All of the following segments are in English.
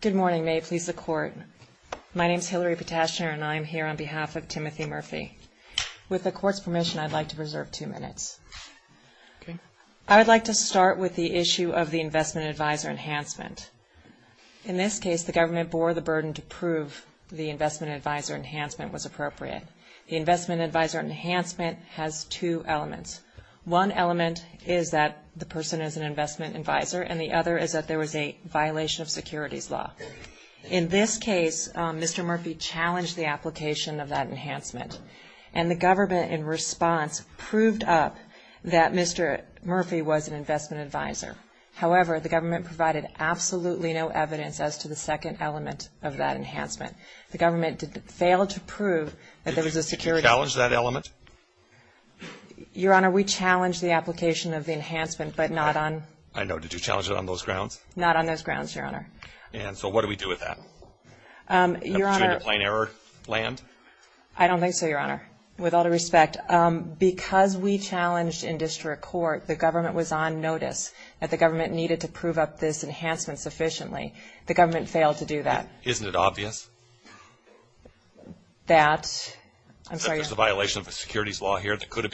Good morning. May it please the Court, my name is Hillary Potashner and I am here on behalf of Timothy Murphy. With the Court's permission, I'd like to preserve two minutes. I would like to start with the issue of the Investment Advisor Enhancement. In this case, the government bore the burden to prove the Investment Advisor Enhancement was appropriate. The Investment Advisor Enhancement has two elements. One element is that the person is an investment advisor and the other is that there was a violation of securities law. In this case, Mr. Murphy challenged the application of that enhancement and the government in response proved up that Mr. Murphy was an investment advisor. However, the government provided absolutely no evidence as to the second element of that enhancement. The government failed to prove that there was a security... Did you challenge that element? Your Honor, we challenged the application of the enhancement, but not on... I know. Did you challenge it on those grounds? Not on those grounds, Your Honor. And so what do we do with that? Put you into plain error land? I don't think so, Your Honor. With all due respect, because we challenged in district court, the government was on notice that the government needed to prove up this is a violation of securities law here that could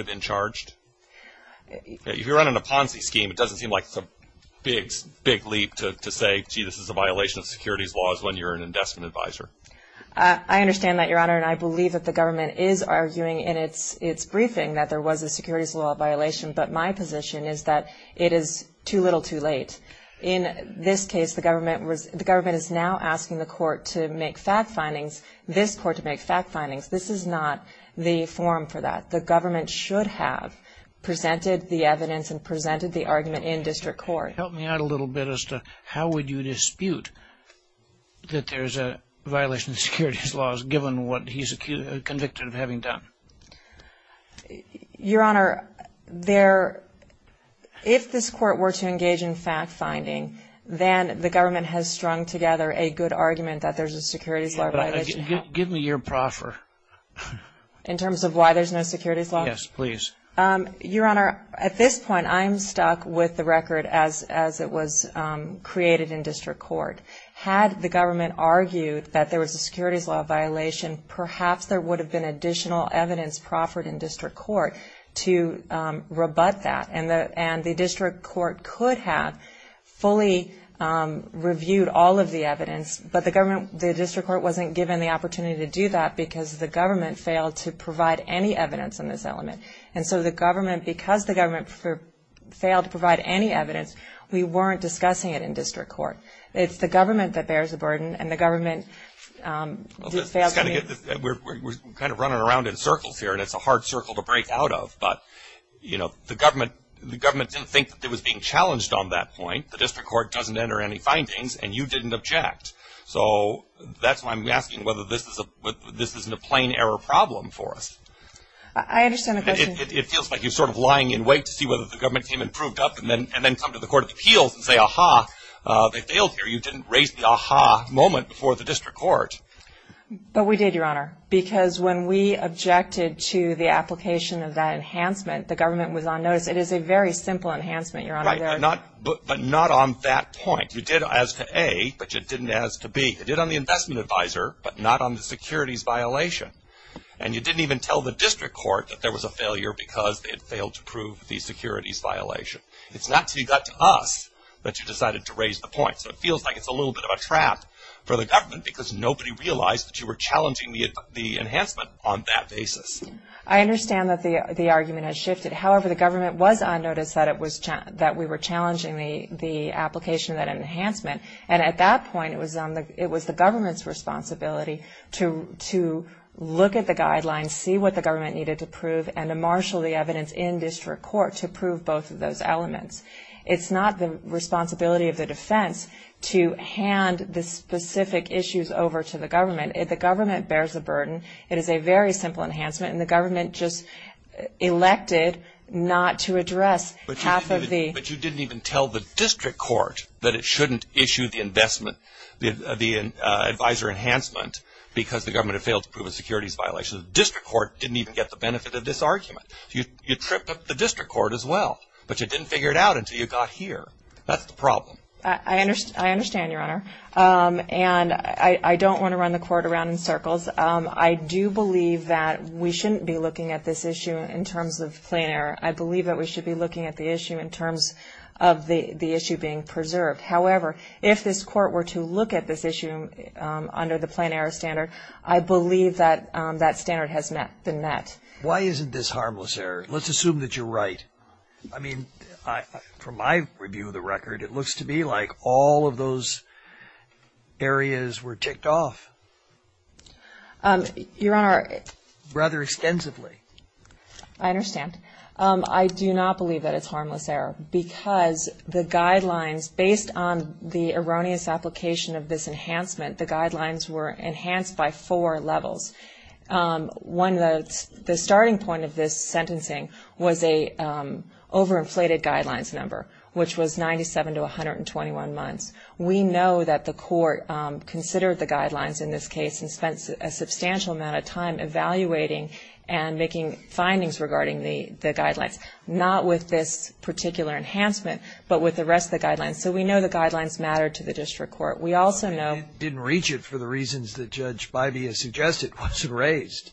have been charged? If you're running a Ponzi scheme, it doesn't seem like it's a big leap to say, gee, this is a violation of securities laws when you're an investment advisor. I understand that, Your Honor, and I believe that the government is arguing in its briefing that there was a securities law violation, but my position is that it is too late. In this case, the government is now asking the court to make fact findings, this court to make fact findings. This is not the forum for that. The government should have presented the evidence and presented the argument in district court. Help me out a little bit as to how would you dispute that there's a violation of securities laws given what he's convicted of having done? Your Honor, there, if this court were to engage in fact finding, then the government has strung together a good argument that there's a securities law violation. Give me your proffer. In terms of why there's no securities law? Yes, please. Your Honor, at this point, I'm stuck with the record as it was created in district court. Had the government argued that there was a securities law violation, perhaps there would have been additional evidence proffered in district court to rebut that. And the district court could have fully reviewed all of the evidence, but the government, the district court wasn't given the opportunity to do that because the government failed to provide any evidence in this element. And so the government, because the government failed to provide any evidence, we weren't discussing it in district court. It's the We're kind of running around in circles here and it's a hard circle to break out of, but you know, the government, the government didn't think that it was being challenged on that point. The district court doesn't enter any findings and you didn't object. So that's why I'm asking whether this is a, this isn't a plain error problem for us. I understand the question. It feels like you're sort of lying in wait to see whether the government came and proved up and then, and then come to the court of appeals and say, aha, they failed here. You didn't raise the aha moment before the district court. But we did, Your Honor, because when we objected to the application of that enhancement, the government was on notice. It is a very simple enhancement, Your Honor. But not on that point. You did as to A, but you didn't as to B. You did on the investment advisor, but not on the securities violation. And you didn't even tell the district court that there was a failure because they had failed to prove the securities violation. It's not until you got to us that you decided to raise the trap for the government because nobody realized that you were challenging the enhancement on that basis. I understand that the argument has shifted. However, the government was on notice that we were challenging the application of that enhancement. And at that point, it was the government's responsibility to look at the guidelines, see what the government needed to prove, and to marshal the evidence in district court to prove both of those elements. It's not the responsibility of the district court to hand the specific issues over to the government. The government bears the burden. It is a very simple enhancement, and the government just elected not to address half of the But you didn't even tell the district court that it shouldn't issue the investment, the advisor enhancement, because the government had failed to prove a securities violation. The district court didn't even get the benefit of this argument. You tripped up the district court as well. But you didn't figure it out until you got here. That's the problem. I understand, Your Honor. And I don't want to run the court around in circles. I do believe that we shouldn't be looking at this issue in terms of plain error. I believe that we should be looking at the issue in terms of the issue being preserved. However, if this court were to look at this issue under the plain error standard, I believe that that standard has been met. Why isn't this harmless error? Let's assume that you're right. I mean, from my review of the record, it looks to be like all of those areas were ticked off. Your Honor. Rather extensively. I understand. I do not believe that it's harmless error, because the guidelines, based on the erroneous application of this enhancement, the guidelines were enhanced by four levels. One, the starting point of this sentencing was a overinflated guidelines number, which was 97 to 121 months. We know that the court considered the guidelines in this case and spent a substantial amount of time evaluating and making findings regarding the guidelines, not with this particular enhancement, but with the rest of the guidelines. So we know the guidelines mattered to the district court. We also know Didn't reach it for the reasons that Judge Bybee has suggested. It wasn't raised.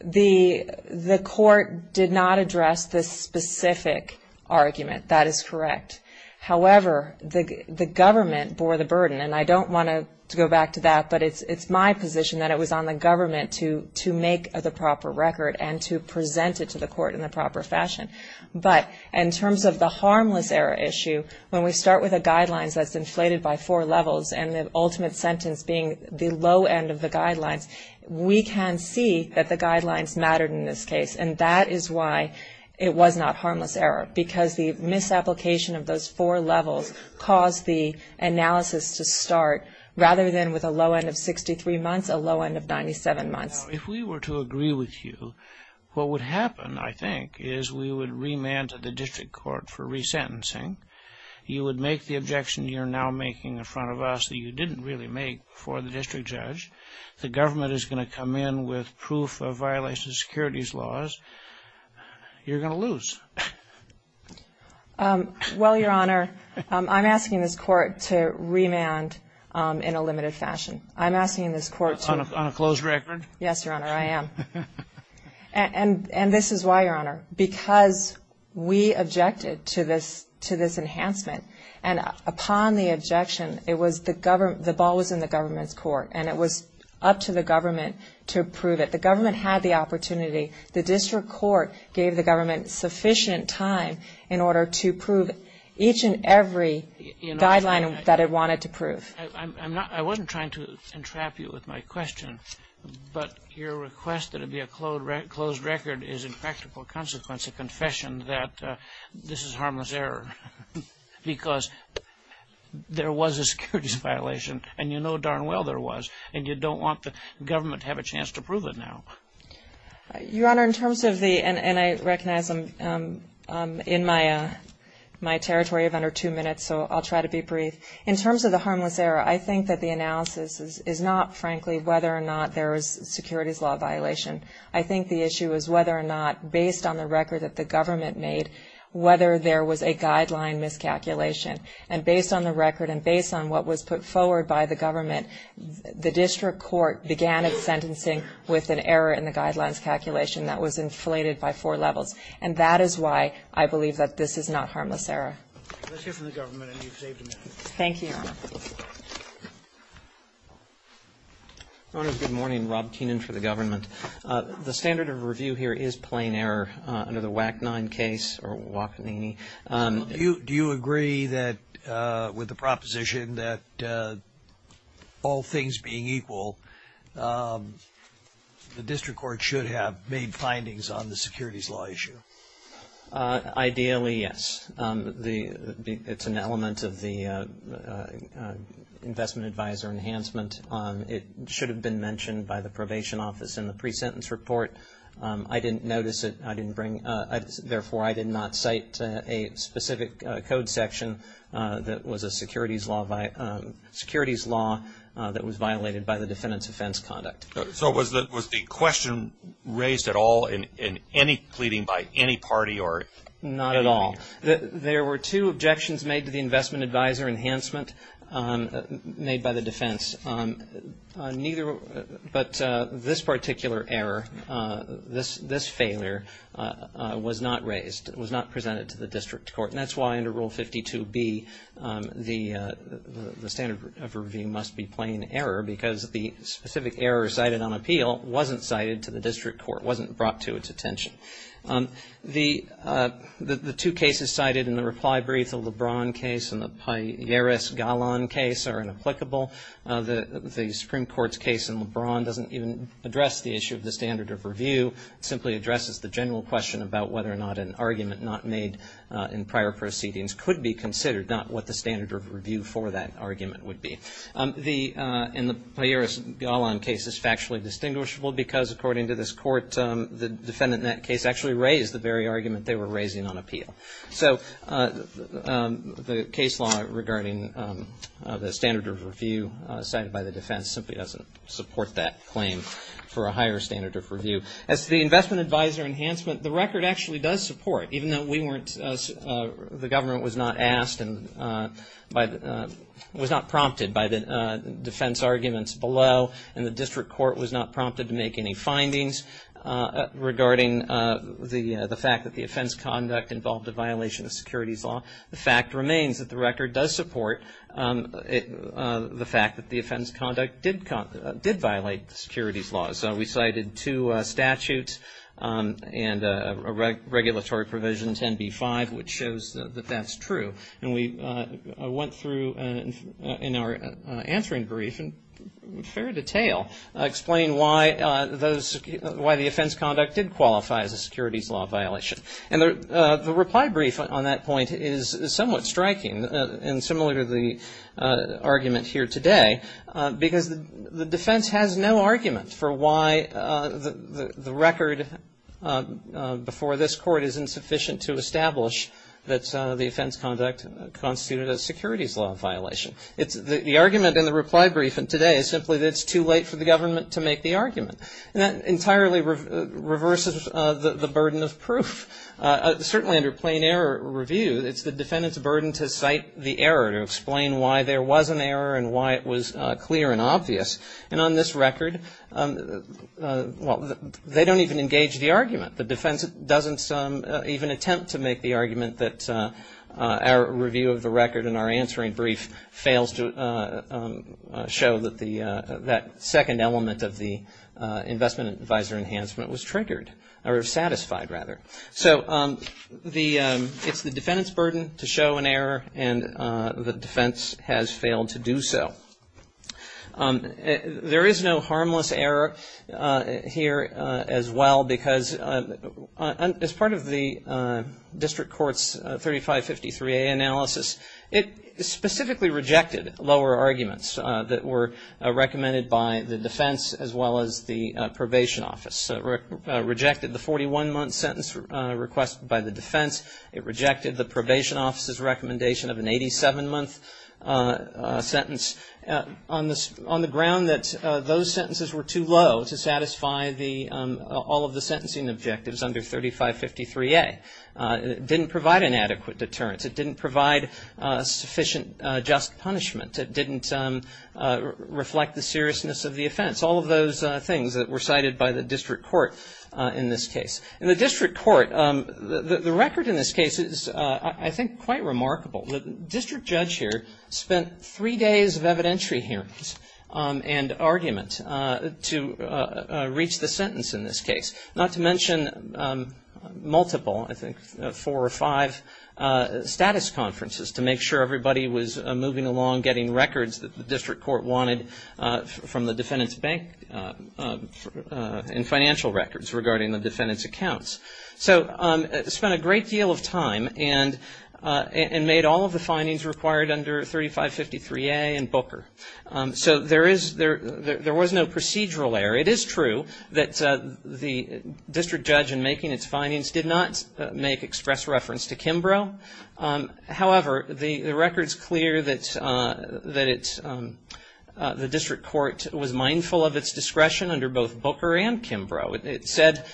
The court did not address this specific argument. That is correct. However, the government bore the burden, and I don't want to go back to that, but it's my position that it was on the government to make the proper record and to present it to the court in the proper fashion. But in terms of the harmless error issue, when we start with a guidelines that's inflated by four levels and the ultimate sentence being the low end of the guidelines, we can see that the guidelines mattered in this case, and that is why it was not harmless error, because the misapplication of those four levels caused the analysis to start rather than with a low end of 63 months, a low end of 97 months. Now, if we were to agree with you, what would happen, I think, is we would remand to the district court for resentencing. You would make the objection you're now making in front of us that you didn't really make for the district judge. If the government is going to come in with proof of violation of securities laws, you're going to lose. Well, Your Honor, I'm asking this court to remand in a limited fashion. I'm asking this court to On a closed record? Yes, Your Honor, I am. And this is why, Your Honor, because we objected to this enhancement, and upon the objection, the ball was in the government's court, and it was up to the government to approve it. The government had the opportunity. The district court gave the government sufficient time in order to prove each and every guideline that it wanted to prove. I wasn't trying to entrap you with my question, but your request that it be a closed record is, in practical consequence, a confession that this is harmless error, because there was a securities violation, and you know darn well there was, and you don't want the government to have a chance to prove it now. Your Honor, in terms of the, and I recognize I'm in my territory of under two minutes, so I'll try to be brief. In terms of the harmless error, I think that the analysis is not, frankly, whether or not there is securities law violation. I think the issue is whether or not, based on the record that the government made, whether there was a guideline miscalculation. And based on the record and based on what was put forward by the government, the district court began its sentencing with an error in the guidelines calculation that was inflated by four levels. And that is why I believe that this is not harmless error. Let's hear from the government, and you've saved a minute. Thank you, Your Honor. Your Honor, good morning. Rob Keenan for the government. The standard of review here is plain error under the WAC-9 case or WACANINI. Do you agree that, with the proposition that all things being equal, the district court should have made findings on the securities law issue? Ideally, yes. It's an element of the investment advisor enhancement. It should have been mentioned by the probation office in the pre-sentence report. I didn't notice it. Therefore, I did not cite a specific code section that was a securities law that was violated by the defendant's offense conduct. So was the question raised at all in any pleading by any party or? Not at all. There were two objections made to the investment advisor enhancement made by the defense. Neither, but this particular error, this failure, was not raised, was not presented to the district court. And that's why, under Rule 52B, the standard of review must be plain error, because the specific error cited on appeal wasn't cited to the district court, wasn't brought to its attention. The two cases cited in the reply brief, the LeBron case and the Piaris-Gallon case, are inapplicable. The Supreme Court's case in LeBron doesn't even address the issue of the standard of review. It simply addresses the general question about whether or not an argument not made in prior proceedings could be considered, not what the standard of review for that argument would be. The Piaris-Gallon case is factually distinguishable because, according to this court, the defendant in that case actually raised the very argument they were raising on appeal. So the case law regarding the standard of review cited by the defense simply doesn't support that claim for a higher standard of review. As to the investment advisor enhancement, the record actually does support, even though we weren't, the government was not asked and was not prompted by the defense arguments below. And the district court was not prompted to make any findings regarding the fact that the offense conduct involved a violation of securities law. The fact remains that the record does support the fact that the offense conduct did violate the securities law. So we cited two statutes and a regulatory provision, 10b-5, which shows that that's true. And we went through in our answering brief in fair detail explaining why those, why the offense conduct did qualify as a securities law violation. And the reply brief on that point is somewhat striking and similar to the argument here today because the defense has no argument for why the record before this court is insufficient to establish that the offense conduct constituted a securities law violation. It's the argument in the reply brief and today is simply that it's too late for the government to make the argument. And that entirely reverses the burden of proof. Certainly under plain error review, it's the defendant's burden to cite the error, to explain why there was an error and why it was clear and obvious. And on this record, well, they don't even engage the argument. The defense doesn't even attempt to make the argument that our review of the record in our answering brief fails to show that the, that second element of the investment advisor enhancement was triggered or satisfied, rather. So the, it's the defendant's burden to show an error and the defense has failed to do so. There is no harmless error here as well because as part of the district court's 3553A analysis, it specifically rejected lower arguments that were recommended by the defense as well as the probation office. It rejected the 41-month sentence requested by the defense. It rejected the probation office's recommendation of an 87-month sentence. On the, on the ground that those sentences were too low to satisfy the, all of the sentencing objectives under 3553A. It didn't provide an adequate deterrence. It didn't provide sufficient just punishment. It didn't reflect the seriousness of the offense. All of those things that were cited by the district court in this case. In the district court, the record in this case is, I think, quite remarkable. The district judge here spent three days of evidentiary hearings and argument to reach the sentence in this case. Not to mention multiple, I think, four or five status conferences to make sure everybody was moving along getting records that the district court wanted from the defendant's bank and financial records regarding the defendant's accounts. So, spent a great deal of time and, and made all of the findings required under 3553A and Booker. So, there is, there was no procedural error. It is true that the district judge in making its findings did not make express reference to Kimbrough. However, the record's clear that, that it's, the district court was mindful of its discretion under both Booker and Kimbrough. It said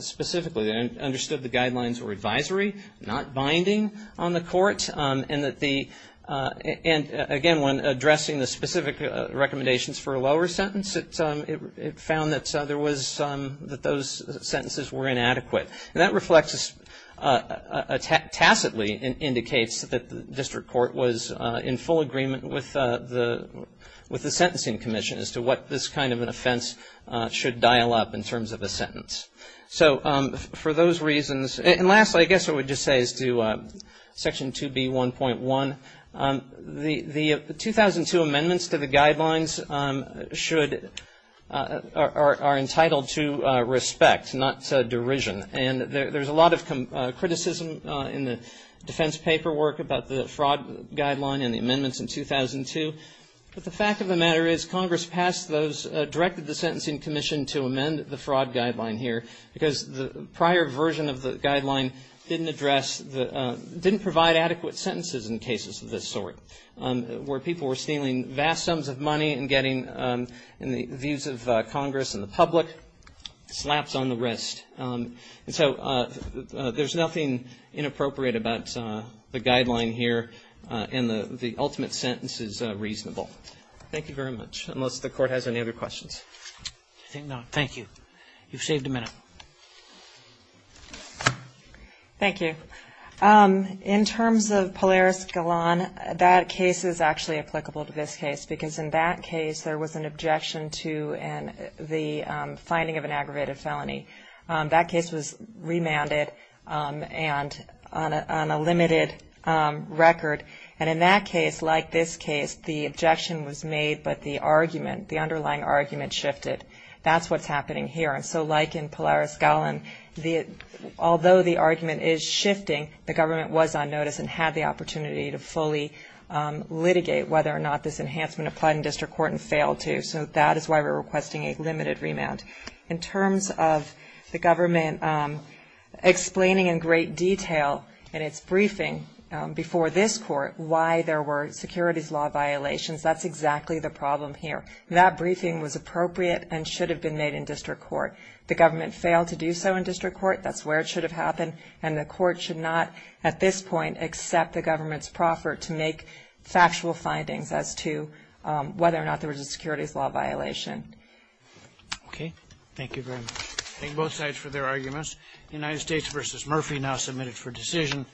specifically, understood the guidelines were advisory, not binding on the court, and that the, and again, when addressing the specific recommendations for a lower sentence, it, it found that there was, that those sentences were inadequate. And that reflects, tacitly indicates that the district court was in full agreement with the, with the sentencing commission as to what this kind of an offense should dial up in terms of a sentence. So, for those reasons, and lastly, I guess I would just say as to Section 2B1.1, the 2002 amendments to the guidelines should, are entitled to respect, not derision. And there, there's a lot of criticism in the defense paperwork about the fraud guideline and the amendments in 2002. But the fact of the matter is, Congress passed those, directed the sentencing commission to amend the fraud guideline here. Because the prior version of the guideline didn't address the, didn't provide adequate sentences in cases of this sort, where people were stealing vast sums of money and getting, in the views of Congress and the public, slaps on the wrist. And so, there's nothing inappropriate about the guideline here, and the, the ultimate sentence is reasonable. Thank you very much, unless the court has any other questions. I think not. Thank you. You've saved a minute. Thank you. In terms of Polaris Galan, that case is actually applicable to this case, because in that case, there was an objection to an, the finding of an aggravated felony. That case was remanded and on a, on a limited record. And in that case, like this case, the objection was made, but the argument, the underlying argument shifted. That's what's happening here. And so, like in Polaris Galan, the, although the argument is shifting, the government was on notice and had the opportunity to fully litigate whether or not this enhancement applied in district court and failed to. So, that is why we're requesting a limited remand. In terms of the government explaining in great detail in its briefing before this court why there were securities law violations, that's exactly the problem here. That briefing was appropriate and should have been made in district court. The government failed to do so in district court. That's where it should have happened. And the court should not, at this point, accept the government's proffer to make factual findings as to whether or not there was a securities law violation. Okay. Thank you very much. Thank both sides for their arguments. United States v. Murphy now submitted for decision.